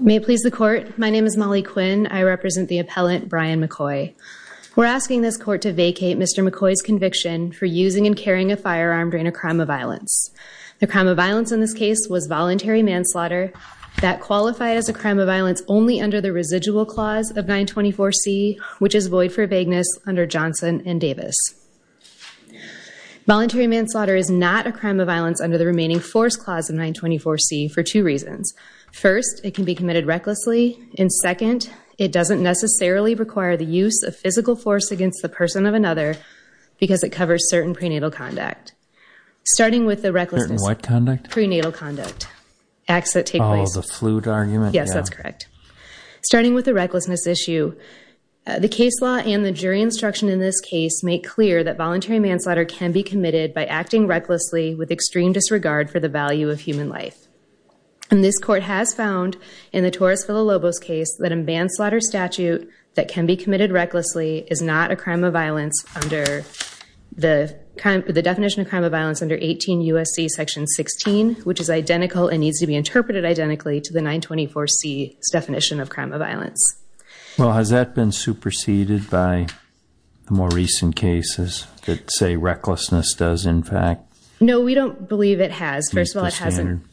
May it please the court. My name is Molly Quinn. I represent the appellant Brian McCoy. We're asking this court to vacate Mr. McCoy's conviction for using and carrying a firearm during a crime of violence. The crime of violence in this case was voluntary manslaughter that qualified as a crime of violence only under the residual clause of 924 C which is void for vagueness under Johnson and Davis. Voluntary manslaughter is not a crime of violence under the remaining force clause of 924 C for two reasons. First, it can be committed recklessly and second, it doesn't necessarily require the use of physical force against the person of another because it covers certain prenatal conduct. Starting with the recklessness, prenatal conduct, acts that take place, yes that's correct. Starting with the recklessness issue, the case law and the jury instruction in this case make clear that voluntary manslaughter can be committed by acting recklessly with extreme disregard for the value of human life. And this court has found in the Torres Villalobos case that a manslaughter statute that can be committed recklessly is not a crime of violence under the definition of crime of violence under 18 U.S.C. section 16 which is identical and needs to be interpreted identically to the 924 C definition of crime of violence. Well has that been superseded by the more recent cases that say recklessness does in fact? No, we don't believe it has. First of all, it hasn't.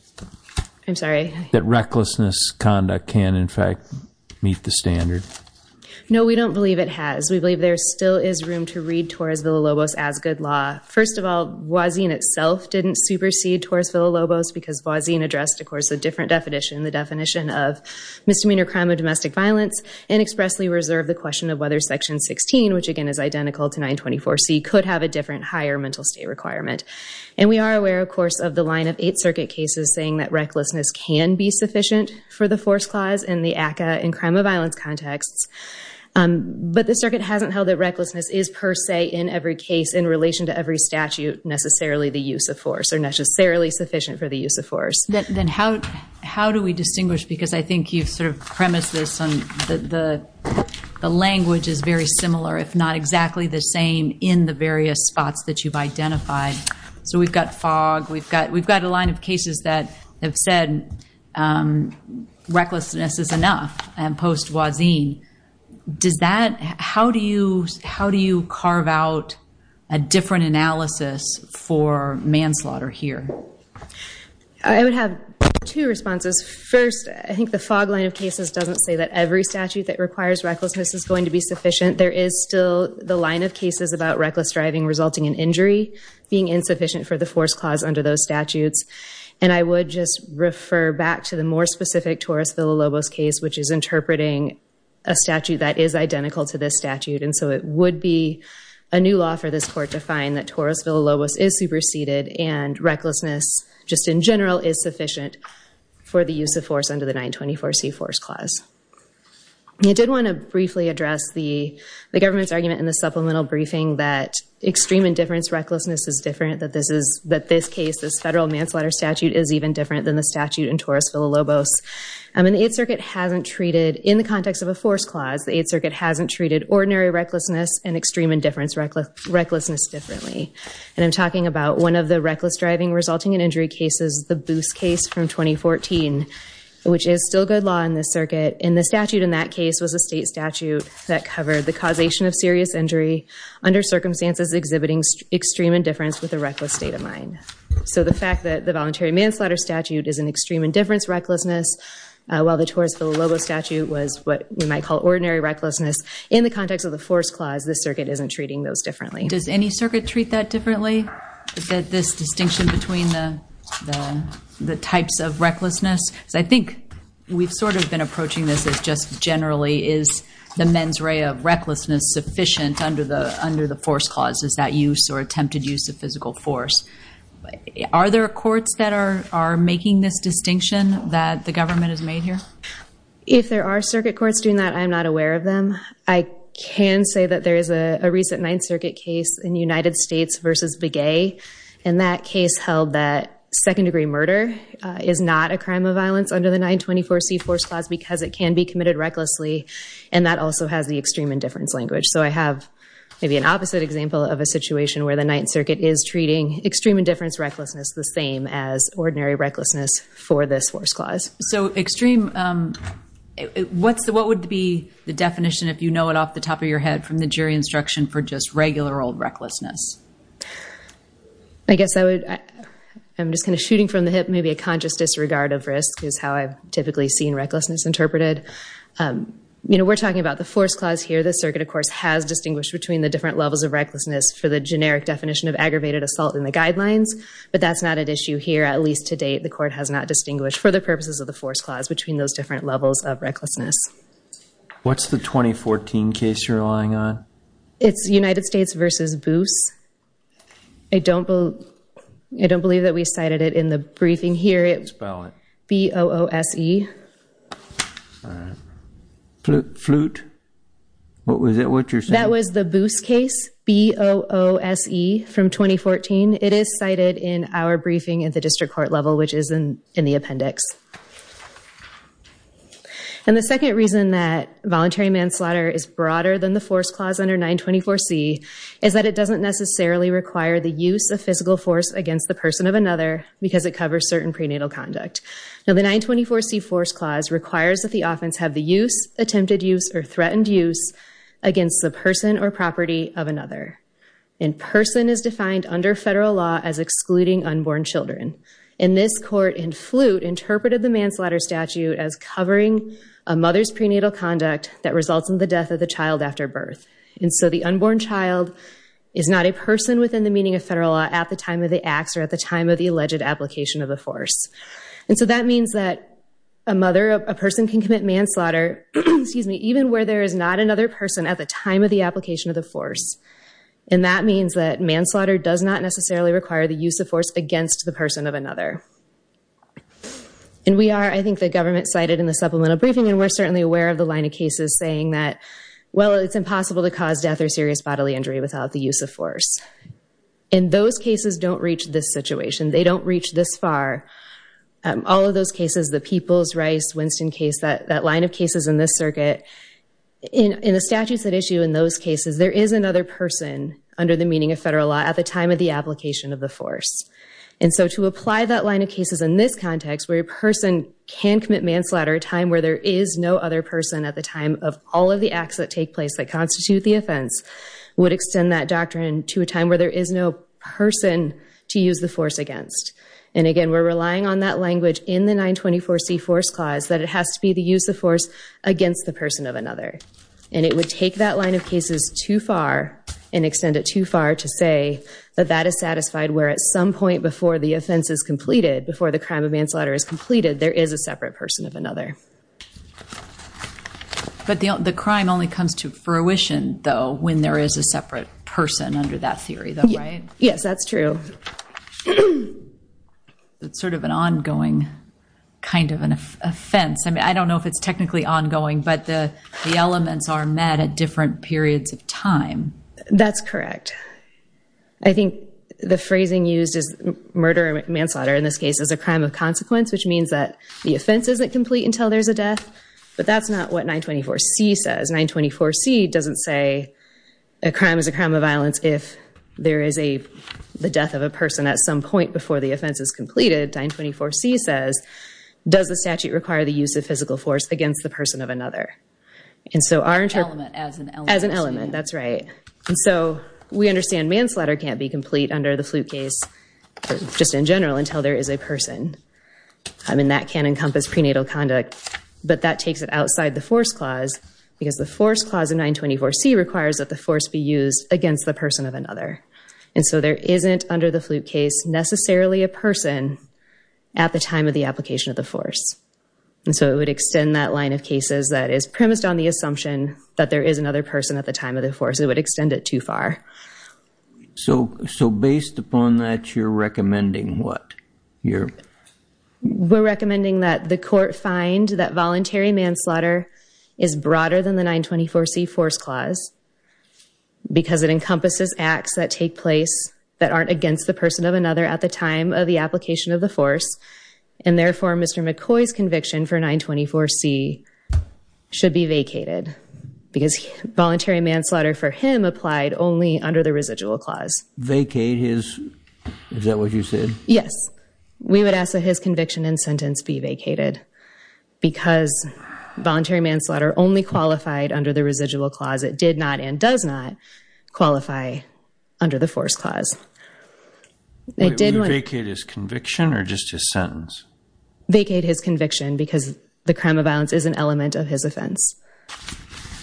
I'm sorry. That recklessness conduct can in fact meet the standard? No, we don't believe it has. We believe there still is room to read Torres Villalobos as good law. First of all, Wazin itself didn't supersede Torres Villalobos because Wazin addressed of course a different definition, the definition of misdemeanor crime of domestic violence and expressly reserved the question of whether section 16 which again is identical to 924 C could have a different higher mental state requirement. And we are aware of course of the line of eight circuit cases saying that recklessness can be sufficient for the force clause and the ACCA in crime of violence contexts. But the circuit hasn't held that recklessness is per se in every case in relation to every statute necessarily the use of force or necessarily sufficient for the use of force. Then how do we distinguish because I think you sort of premised this on the language is very similar if not exactly the same in the various spots that you've identified. So we've got fog, we've got a line of cases that have said recklessness is enough and post Wazin. How do you carve out a different say that every statute that requires recklessness is going to be sufficient. There is still the line of cases about reckless driving resulting in injury being insufficient for the force clause under those statutes. And I would just refer back to the more specific Torres Villalobos case which is interpreting a statute that is identical to this statute. And so it would be a new law for this court to find that Torres Villalobos is superseded and recklessness just in general is sufficient for the use of force under the 924 C force clause. You did want to briefly address the government's argument in the supplemental briefing that extreme indifference recklessness is different that this is that this case this federal manslaughter statute is even different than the statute in Torres Villalobos. I mean the 8th Circuit hasn't treated in the context of a force clause the 8th Circuit hasn't treated ordinary recklessness and extreme indifference reckless recklessness differently. And I'm talking about one of the resulting in injury cases the Booth's case from 2014 which is still good law in this circuit and the statute in that case was a state statute that covered the causation of serious injury under circumstances exhibiting extreme indifference with a reckless state of mind. So the fact that the voluntary manslaughter statute is an extreme indifference recklessness while the Torres Villalobos statute was what you might call ordinary recklessness in the context of the force clause the circuit isn't treating those differently. Does any circuit treat that differently that this distinction between the types of recklessness. I think we've sort of been approaching this as just generally is the mens rea of recklessness sufficient under the force clauses that use or attempted use of physical force. Are there courts that are making this distinction that the government has made here? If there are circuit courts doing that I'm not aware of them. I can say that there is a recent Ninth Circuit case in the United States versus Begay and that case held that second degree murder is not a crime of violence under the 924 C force clause because it can be committed recklessly and that also has the extreme indifference language. So I have maybe an opposite example of a situation where the Ninth Circuit is treating extreme indifference recklessness the same as ordinary recklessness for this force clause. So extreme what's the what would be the definition if you know it off the top of your head from the jury instruction for just regular old recklessness? I guess I would I'm just kind of shooting from the hip maybe a conscious disregard of risk is how I've typically seen recklessness interpreted. You know we're talking about the force clause here the circuit of course has distinguished between the different levels of recklessness for the generic definition of aggravated assault in the guidelines but that's not an issue here at least to date the court has not distinguished for the purposes of the force clause between those different levels of recklessness. What's the 2014 case you're relying on? It's United States versus Boos. I don't believe that we cited it in the briefing here. Spell it. B-O-O-S-E. Flute? What was it what you're saying? That was the Boos case B-O-O-S-E from 2014. It is cited in our briefing at the district court which is in the appendix. And the second reason that voluntary manslaughter is broader than the force clause under 924 C is that it doesn't necessarily require the use of physical force against the person of another because it covers certain prenatal conduct. Now the 924 C force clause requires that the offense have the use, attempted use, or threatened use against the person or property of another. In person is defined under federal law as excluding unborn children. And this court in Flute interpreted the manslaughter statute as covering a mother's prenatal conduct that results in the death of the child after birth. And so the unborn child is not a person within the meaning of federal law at the time of the acts or at the time of the alleged application of the force. And so that means that a mother, a person can commit manslaughter, excuse me, even where there is not another person at the time of the application of the force. And that is not the case. It's the person of another. And we are, I think the government cited in the supplemental briefing and we're certainly aware of the line of cases saying that, well, it's impossible to cause death or serious bodily injury without the use of force. And those cases don't reach this situation. They don't reach this far. All of those cases, the Peoples, Rice, Winston case, that line of cases in this circuit, in the statutes that issue in those cases, there is another person under the meaning of federal law at the time of the application of the force. And so to apply that line of cases in this context, where a person can commit manslaughter at a time where there is no other person at the time of all of the acts that take place that constitute the offense, would extend that doctrine to a time where there is no person to use the force against. And again, we're relying on that language in the 924C force clause that it has to be the use of force against the person of another. And it would take that line of cases too far and extend it too far to say that that is satisfied, where at some point before the offense is completed, before the crime of manslaughter is completed, there is a separate person of another. But the crime only comes to fruition, though, when there is a separate person under that theory, though, right? Yes, that's true. It's sort of an ongoing kind of an offense. I mean, I don't know if it's technically ongoing, but the the elements are met at different periods of time. That's correct. I think the phrasing used is murder manslaughter, in this case, as a crime of consequence, which means that the offense isn't complete until there's a death. But that's not what 924C says. 924C doesn't say a crime is a crime of violence if there is a the death of a person at some point before the offense is completed. 924C says, does the statute require the use of physical force against the person of another? And so our interpretation... Element, as an element. As an element, that's right. And so we understand manslaughter can't be complete under the flute case, just in general, until there is a person. I mean, that can encompass prenatal conduct, but that takes it outside the force clause, because the force clause of 924C requires that the force be used against the person of another. And so there isn't, under the flute case, necessarily a person at the time of the application of the force. And so it would extend that line of cases that is premised on the assumption that there is another person at the time of the force. It would extend it too far. So based upon that, you're recommending what? We're recommending that the court find that voluntary manslaughter is broader than the 924C force clause, because it encompasses acts that take place that aren't against the person of another at the time of the application of the force. And therefore, Mr. McCoy's conviction for 924C should be vacated, because voluntary manslaughter for him applied only under the residual clause. Vacate his... Is that what you said? Yes. We would ask that his conviction and sentence be vacated, because voluntary manslaughter only qualified under the residual clause. It did not, and does not, qualify under the force clause. Wait, vacate his conviction or just his sentence? Vacate his conviction, because the crime of violence is an element of his offense.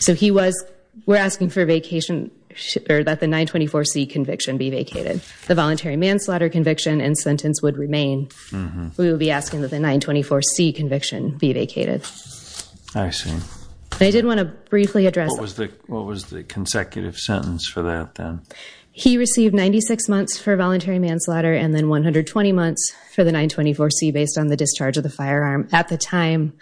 So we're asking that the 924C conviction be vacated. The voluntary manslaughter conviction and sentence would remain. We will be asking that the 924C conviction be vacated. I see. I did want to briefly address... What was the consecutive sentence for that then? He received 96 months for voluntary manslaughter and then 120 months for the 924C, based on the discharge of the firearm. At the time,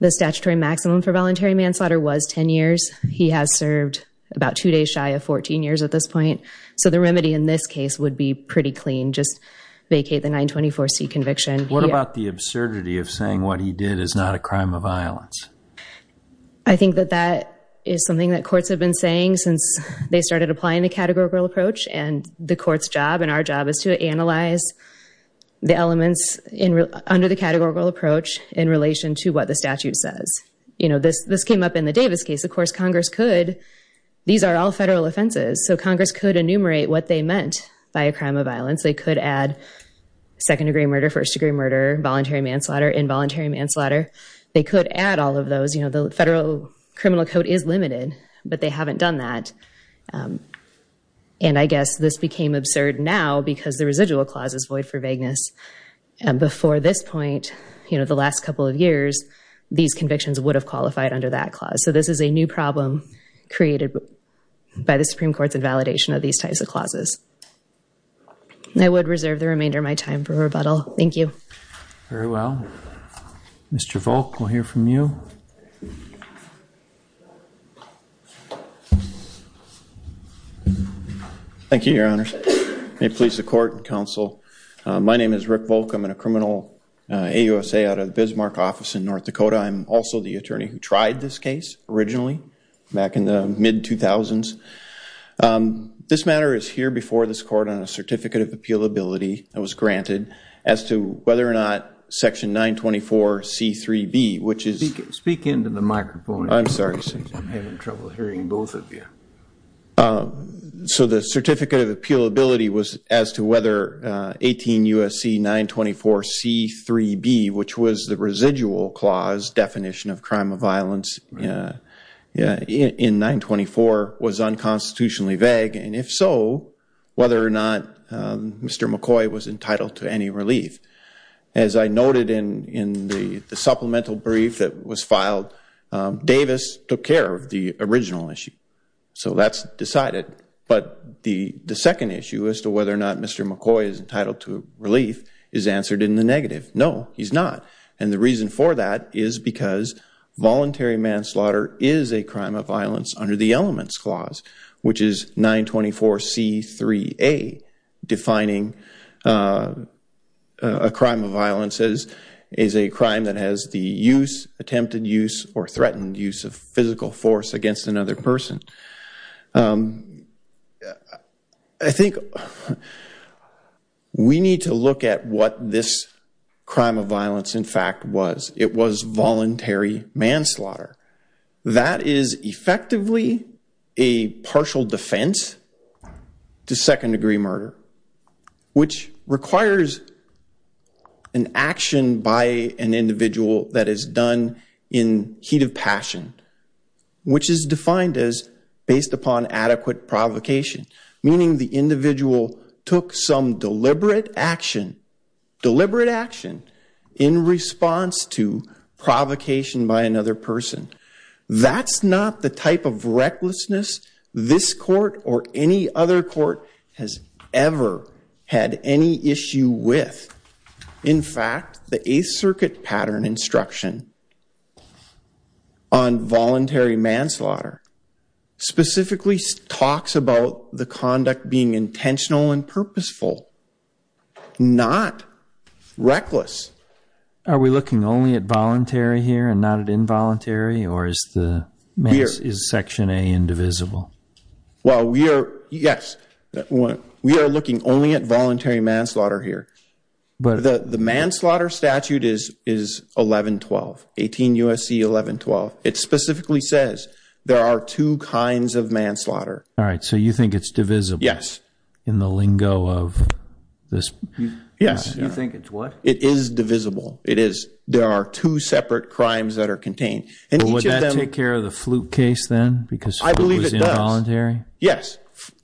the statutory maximum for voluntary manslaughter was 10 years. He has served about two days shy of 14 years at this point. So the remedy in this case would be pretty clean. Just vacate the 924C conviction. What about the absurdity of saying what he did is not a crime of violence? I think that that is something that courts have been saying since they started applying the categorical approach. The court's job and our job is to analyze the elements under the categorical approach in relation to what the statute says. This came up in the Davis case. Of course, Congress could... These are all federal offenses. So Congress could enumerate what they meant by a crime of violence. They could add second-degree murder, first-degree murder, voluntary manslaughter, involuntary manslaughter. They could add all of those. The federal And I guess this became absurd now because the residual clause is void for vagueness. And before this point, you know, the last couple of years, these convictions would have qualified under that clause. So this is a new problem created by the Supreme Court's invalidation of these types of clauses. I would reserve the remainder of my time for rebuttal. Thank you. Very well. Mr. Volk, we'll hear from you. Thank you, Your Honors. May it please the court and counsel. My name is Rick Volk. I'm in a criminal AUSA out of the Bismarck office in North Dakota. I'm also the attorney who tried this case originally back in the mid-2000s. This matter is here before this court on a certificate of appealability that was granted as to whether or not Section 924C3B, which is... Speak into the microphone. I'm sorry, sir. I'm having trouble hearing both of you. So the certificate of appealability was as to whether 18 U.S.C. 924C3B, which was the residual clause definition of crime of violence in 924 was unconstitutionally vague. And if so, whether or not Mr. McCoy was entitled to any relief. As I noted in the supplemental brief that was filed, Davis took care of the original issue. So that's decided. But the second issue as to whether or not Mr. McCoy is entitled to relief is answered in the negative. No, he's not. And the reason for that is because voluntary manslaughter is a crime of violence under the elements clause, which is 924C3A, defining a crime of violence as a crime that has the use, attempted use, or threatened use of physical force against another person. I think we need to look at what this crime of violence, in fact, was. It was voluntary manslaughter. That is effectively a partial defense to second-degree murder, which requires an action by an individual that is done in heat of passion, which is defined as based upon adequate provocation, meaning the individual took some deliberate action, deliberate action, in response to provocation by another person. That's not the type of recklessness this court or any other court has ever had any issue with. In fact, the Eighth Circuit pattern instruction on voluntary manslaughter specifically talks about the conduct being intentional and purposeful, not reckless. Are we looking only at voluntary here and not at involuntary, or is Section A indivisible? Well, yes. We are looking only at voluntary manslaughter here. The manslaughter statute is 1112, 18 U.S.C. 1112. It specifically says there are two kinds of manslaughter. All right. So you think it's divisible? Yes. In the lingo of this? Yes. You think it's what? It is divisible. It is. There are two separate crimes that are contained. And would that take care of the Flute case then, because Flute was involuntary? I believe it does.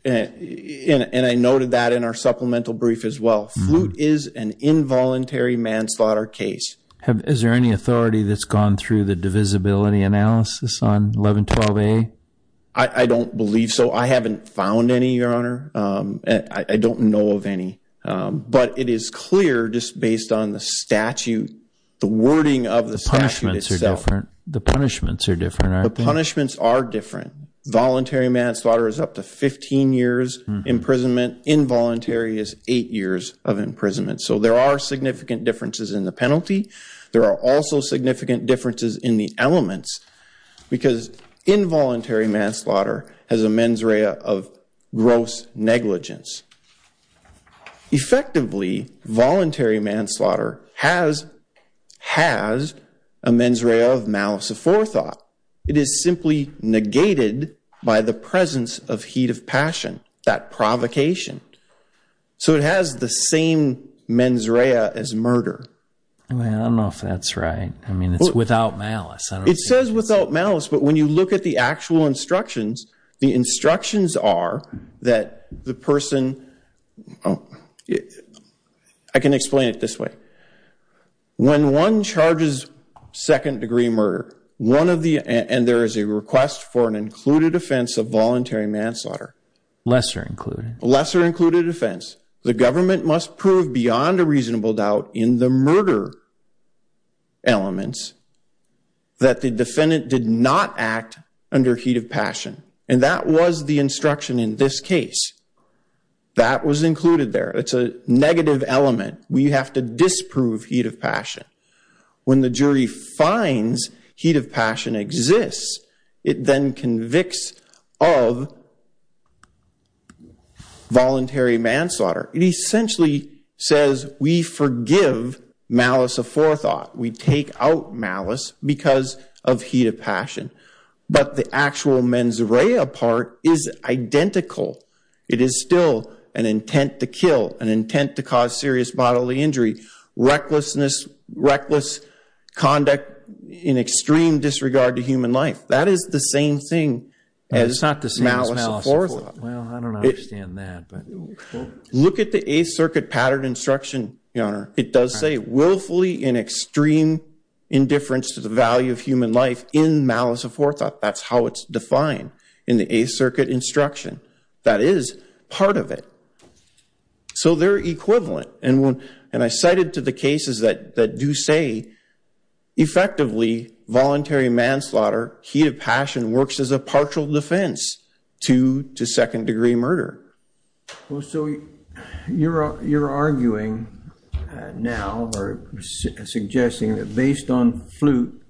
Yes. And I noted that in our supplemental brief as well. Flute is an involuntary manslaughter case. Is there any authority that's gone through the divisibility analysis on 1112A? I don't believe so. I haven't found any, Your Honor. I don't know of any. But it is clear just based on the statute, the wording of the statute itself. The punishments are different. The punishments are different. The punishments are different. Voluntary manslaughter is up to 15 years imprisonment. Involuntary is eight years of imprisonment. So there are significant differences in the penalty. There are also significant differences in the elements, because involuntary manslaughter has a mens rea of gross negligence. Effectively, voluntary manslaughter has a mens rea of malice aforethought. It is simply negated by the presence of heat of passion, that provocation. So it has the same mens rea as murder. I don't know if that's right. I mean, it's without malice. It says without malice, but when you look at the actual instructions, the instructions are that the person... I can explain it this way. When one charges second degree murder, and there is a request for an included offense of voluntary manslaughter. Lesser included. Lesser included offense. The government must prove beyond a reasonable doubt in the murder elements that the defendant did not act under heat of passion. And that was the instruction in this case. That was included there. It's a negative element. We have to disprove heat passion. When the jury finds heat of passion exists, it then convicts of voluntary manslaughter. It essentially says we forgive malice aforethought. We take out malice because of heat of passion. But the actual mens rea part is identical. It is still an intent to kill, an intent to cause serious bodily injury, recklessness, reckless conduct in extreme disregard to human life. That is the same thing as malice aforethought. It's not the same as malice aforethought. Well, I don't understand that, but... Look at the Eighth Circuit pattern instruction, Your Honor. It does say willfully in extreme indifference to the value of human life in malice aforethought. That's how it's defined in the Eighth Circuit instruction. That is part of it. So they're equivalent. And I cited to the cases that do say effectively voluntary manslaughter, heat of passion works as a partial defense to second-degree murder. Well, so you're arguing now or suggesting that based on flute,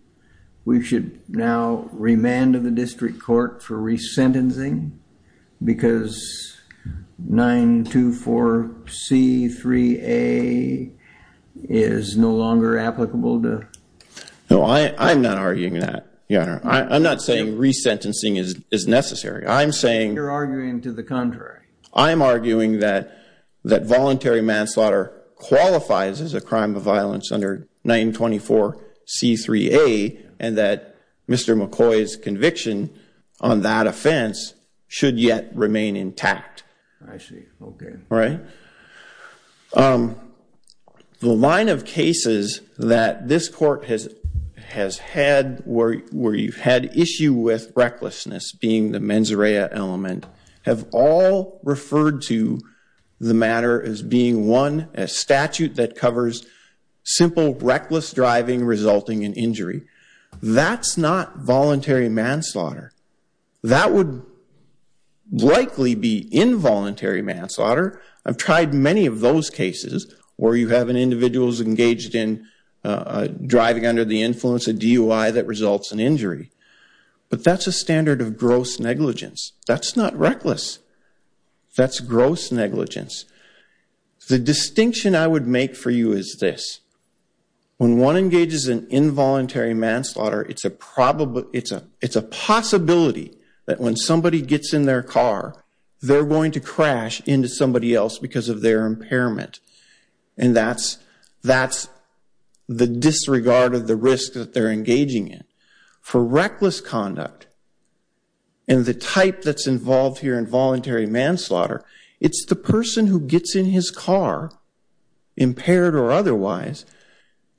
we should now remand to the 24C3A is no longer applicable to... No, I'm not arguing that, Your Honor. I'm not saying resentencing is necessary. I'm saying... You're arguing to the contrary. I'm arguing that voluntary manslaughter qualifies as a crime of violence under 924C3A and that Mr. McCoy's conviction on that offense should yet remain intact. I see. Okay. Right? The line of cases that this court has had where you've had issue with recklessness being the mens rea element have all referred to the matter as being one, a statute that covers simple reckless driving resulting in injury. That's not voluntary manslaughter. That would likely be involuntary manslaughter. I've tried many of those cases where you have an individual who's engaged in driving under the influence, a DUI that results in injury. But that's a standard of gross negligence. That's not reckless. That's gross negligence. The distinction I would make for you is this. When one engages in involuntary manslaughter, it's a possibility that when somebody gets in their car, they're going to crash into somebody else because of their impairment. And that's the disregard of the risk that they're engaging in. For reckless conduct, and the type that's involved here in voluntary manslaughter, it's the person who gets in his car, impaired or otherwise,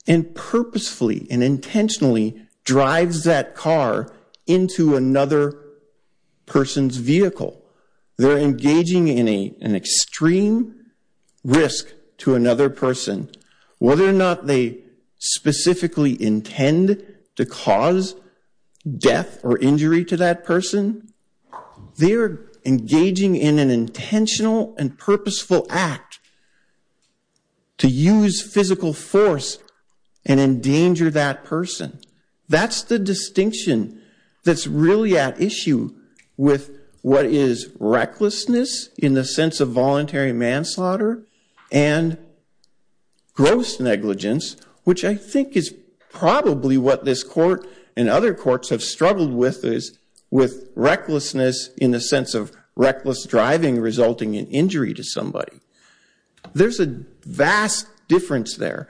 and purposefully and intentionally drives that car into another person's vehicle. They're engaging in an extreme risk to another person. Whether or not they specifically intend to cause death or injury to that person, they're engaging in an intentional and purposeful act to use physical force and endanger that person. That's the distinction that's really at issue with what is recklessness in the sense of voluntary manslaughter and gross negligence, which I think is probably what this in the sense of reckless driving resulting in injury to somebody. There's a vast difference there.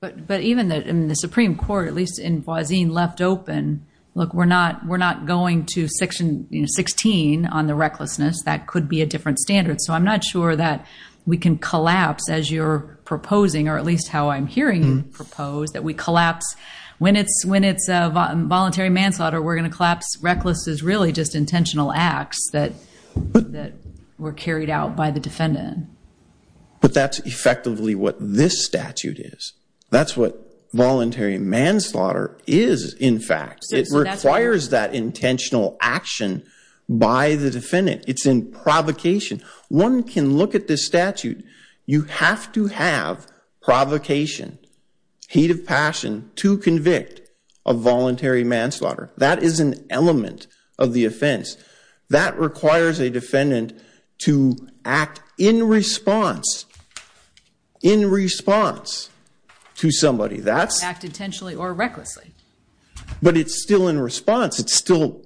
But even in the Supreme Court, at least in Boise, left open, look, we're not going to 16 on the recklessness. That could be a different standard. So I'm not sure that we can collapse as you're proposing, or at least how I'm hearing you propose, that we collapse when it's voluntary manslaughter. We're going to collapse reckless as really just intentional acts that were carried out by the defendant. But that's effectively what this statute is. That's what voluntary manslaughter is, in fact. It requires that intentional action by the defendant. It's in provocation. One can look at this statute. You have to have provocation, heat of passion to convict a voluntary manslaughter. That is an element of the offense. That requires a defendant to act in response to somebody. Act intentionally or recklessly. But it's still in response. It's an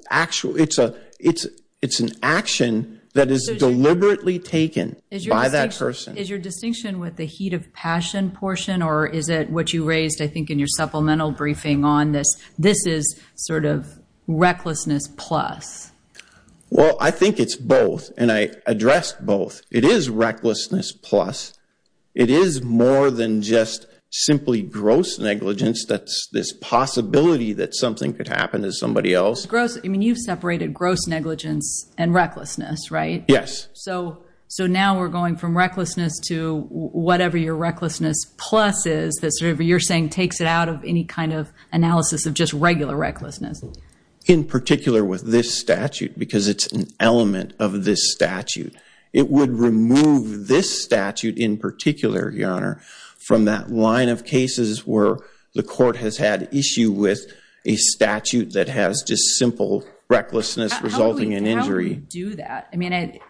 action that is deliberately taken by that person. Is your distinction with the heat of passion portion, or is it what you raised, I think, in your supplemental briefing on this? This is sort of recklessness plus. Well, I think it's both. And I addressed both. It is recklessness plus. It is more than just simply gross negligence. That's this possibility that something could happen to somebody else. Gross. I mean, you've separated gross negligence and recklessness, right? Yes. So now we're going from recklessness to whatever your recklessness plus is, that sort of, you're saying, takes it out of any kind of analysis of just regular recklessness. In particular with this statute, because it's an element of this statute. It would remove this statute in particular, Your Honor, from that line of cases where the court has had issue with a statute that has just simple recklessness resulting in injury. Do that. I mean,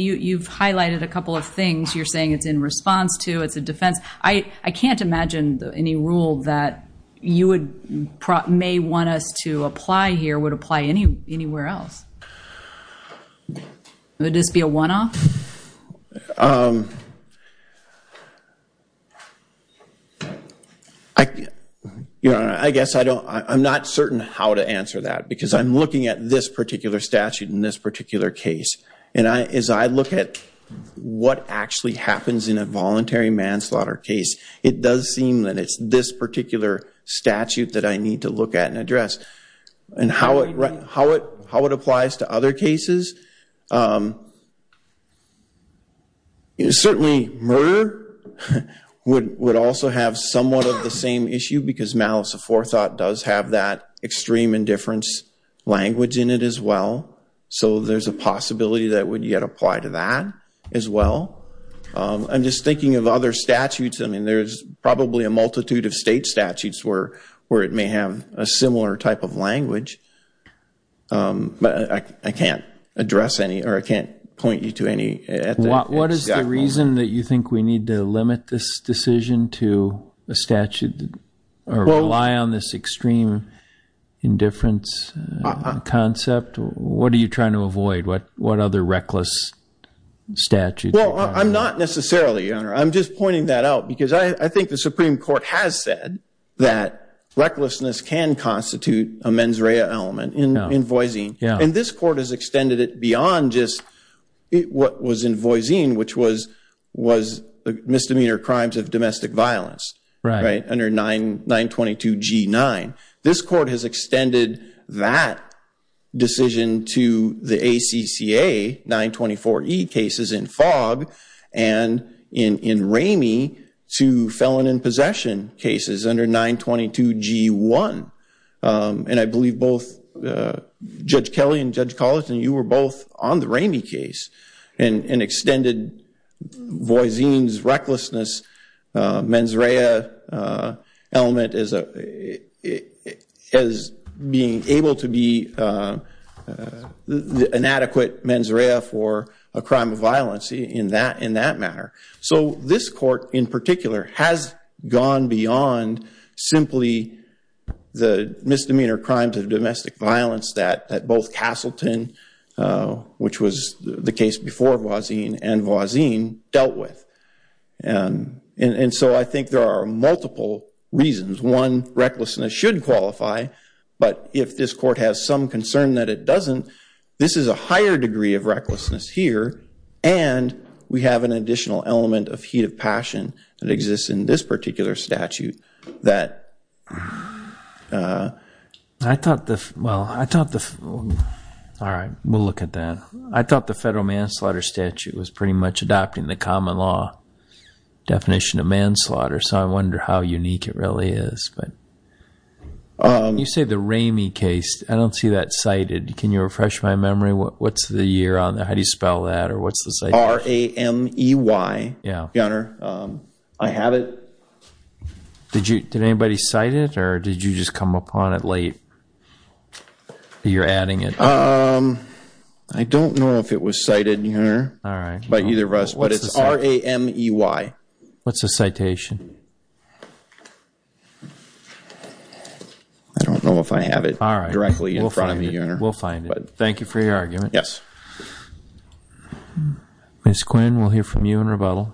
you've highlighted a couple of things. You're saying it's in response to, it's a defense. I can't imagine any rule that you may want us to apply here would apply anywhere else. Would this be a one-off? I guess I don't, I'm not certain how to answer that because I'm in this particular case. And as I look at what actually happens in a voluntary manslaughter case, it does seem that it's this particular statute that I need to look at and address. And how it applies to other cases, certainly murder would also have somewhat of the same issue because malice aforethought does have that extreme indifference language in it as well. So there's a possibility that would yet apply to that as well. I'm just thinking of other statutes. I mean, there's probably a multitude of state statutes where it may have a similar type of language, but I can't address any or I can't point you to any. What is the reason that you think we need to limit this decision to a statute or rely on this extreme indifference concept? What are you trying to avoid? What other reckless statutes? Well, I'm not necessarily, Your Honor. I'm just pointing that out because I think the Supreme Court has said that recklessness can constitute a mens rea element in Voisin. And this court has extended it beyond just what was in Voisin, which was misdemeanor crimes of domestic violence under 922 G9. This court has extended that decision to the ACCA 924 E cases in Fogg and in Ramey to felon in possession cases under 922 G1. And I believe both Judge Kelly and Judge Colleton, you were both on the Ramey case and extended Voisin's recklessness mens rea element as being able to be inadequate mens rea for a crime of violence in that matter. So this court in particular has gone beyond simply the misdemeanor crimes of domestic violence that both Castleton, which was the case before Voisin, and Voisin dealt with. And so I think there are multiple reasons. One, recklessness should qualify. But if this court has some concern that it doesn't, this is a higher degree of recklessness here. And we have an additional element of heat of passion that exists in this particular statute that... Well, I thought the... All right, we'll look at that. I thought the federal manslaughter statute was pretty much adopting the common law definition of manslaughter, so I wonder how unique it really is. But you say the Ramey case, I don't see that cited. Can you refresh my memory? What's the year on that? How do you spell that? Or what's the... R-A-M-E-Y, Your Honor. I have it. Did anybody cite it, or did you just come upon it late? You're adding it. I don't know if it was cited, Your Honor, by either of us, but it's R-A-M-E-Y. What's the citation? I don't know if I have it directly in front of me, Your Honor. We'll find it. Thank you for your argument. Yes. Ms. Quinn, we'll hear from you in rebuttal.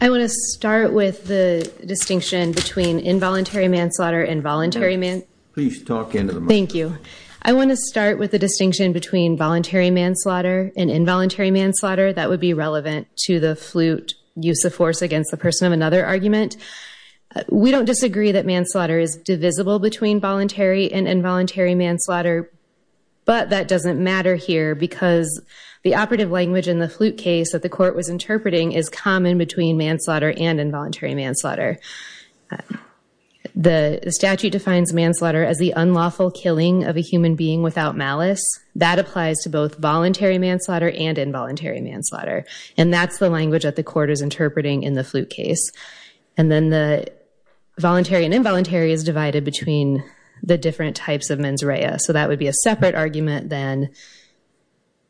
I want to start with the distinction between involuntary manslaughter and voluntary mans... Please talk into the microphone. Thank you. I want to start with the distinction between voluntary manslaughter and involuntary manslaughter. That would be relevant to the flute use of force against the person of another argument. We don't disagree that manslaughter is divisible between voluntary and involuntary manslaughter, but that doesn't matter here because the operative language in the flute case that the court was interpreting is common between manslaughter and involuntary manslaughter. The statute defines manslaughter as the unlawful killing of a human being without malice. That applies to both voluntary manslaughter and involuntary manslaughter, and that's the language that the court is interpreting in the flute case. And then the voluntary and involuntary is divided between the different types of mens rea, so that would be a separate argument than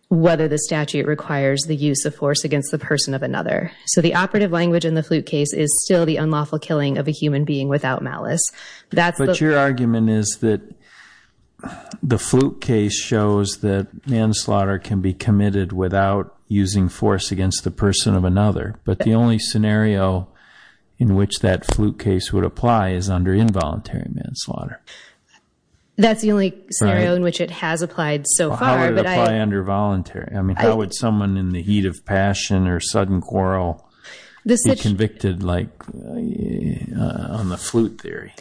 whether the statute requires the use of force against the person of another. So the operative language in the flute case is still the unlawful killing of a human being without malice. But your argument is that the flute case shows that manslaughter can be committed without using force against the person of another, but the only scenario in which that flute case would apply is under involuntary manslaughter. That's the only scenario in which it has applied so far. How would it apply under voluntary? I mean, how would someone in the heat of passion or sudden quarrel be convicted like on the flute theory?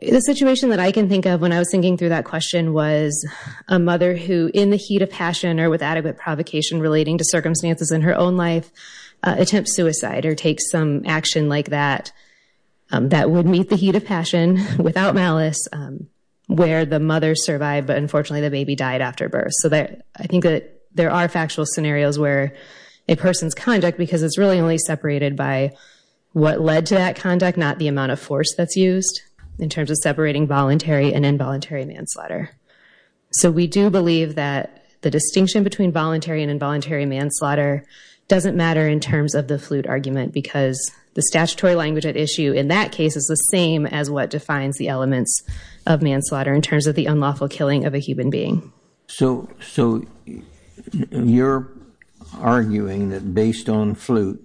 The situation that I can think of when I was thinking through that question was a mother who, in the heat of passion or with adequate provocation relating to circumstances in her own life, attempts suicide or takes some action like that that would meet the heat of passion without malice where the mother survived, but unfortunately the baby died after birth. So I think that there are factual scenarios where a person's conduct, because it's really only separated by what led to that conduct, not the amount of force that's used in terms of separating voluntary and involuntary manslaughter. So we do believe that the distinction between voluntary and involuntary manslaughter doesn't matter in terms of the flute argument because the statutory language at issue in that case is the same as what defines the elements of manslaughter in terms of the unlawful killing of a human being. So you're arguing that based on flute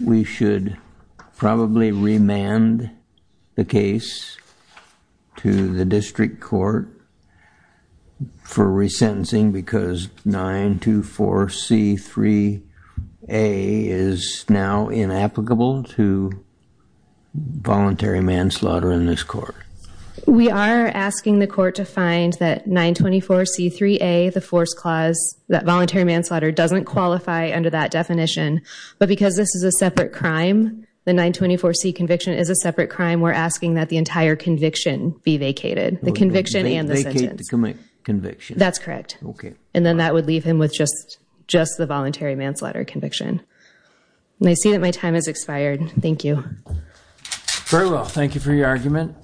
we should probably remand the case to the district court for resentencing because 924C3A is now inapplicable to voluntary manslaughter in this court? We are asking the court to find that 924C3A, the force clause, that voluntary manslaughter doesn't qualify under that definition, but because this is a separate crime, the 924C conviction is a separate crime, we're asking that entire conviction be vacated, the conviction and the sentence. Vacate the conviction? That's correct. Okay. And then that would leave him with just the voluntary manslaughter conviction. I see that my time has expired. Thank you. Very well. Thank you for your argument.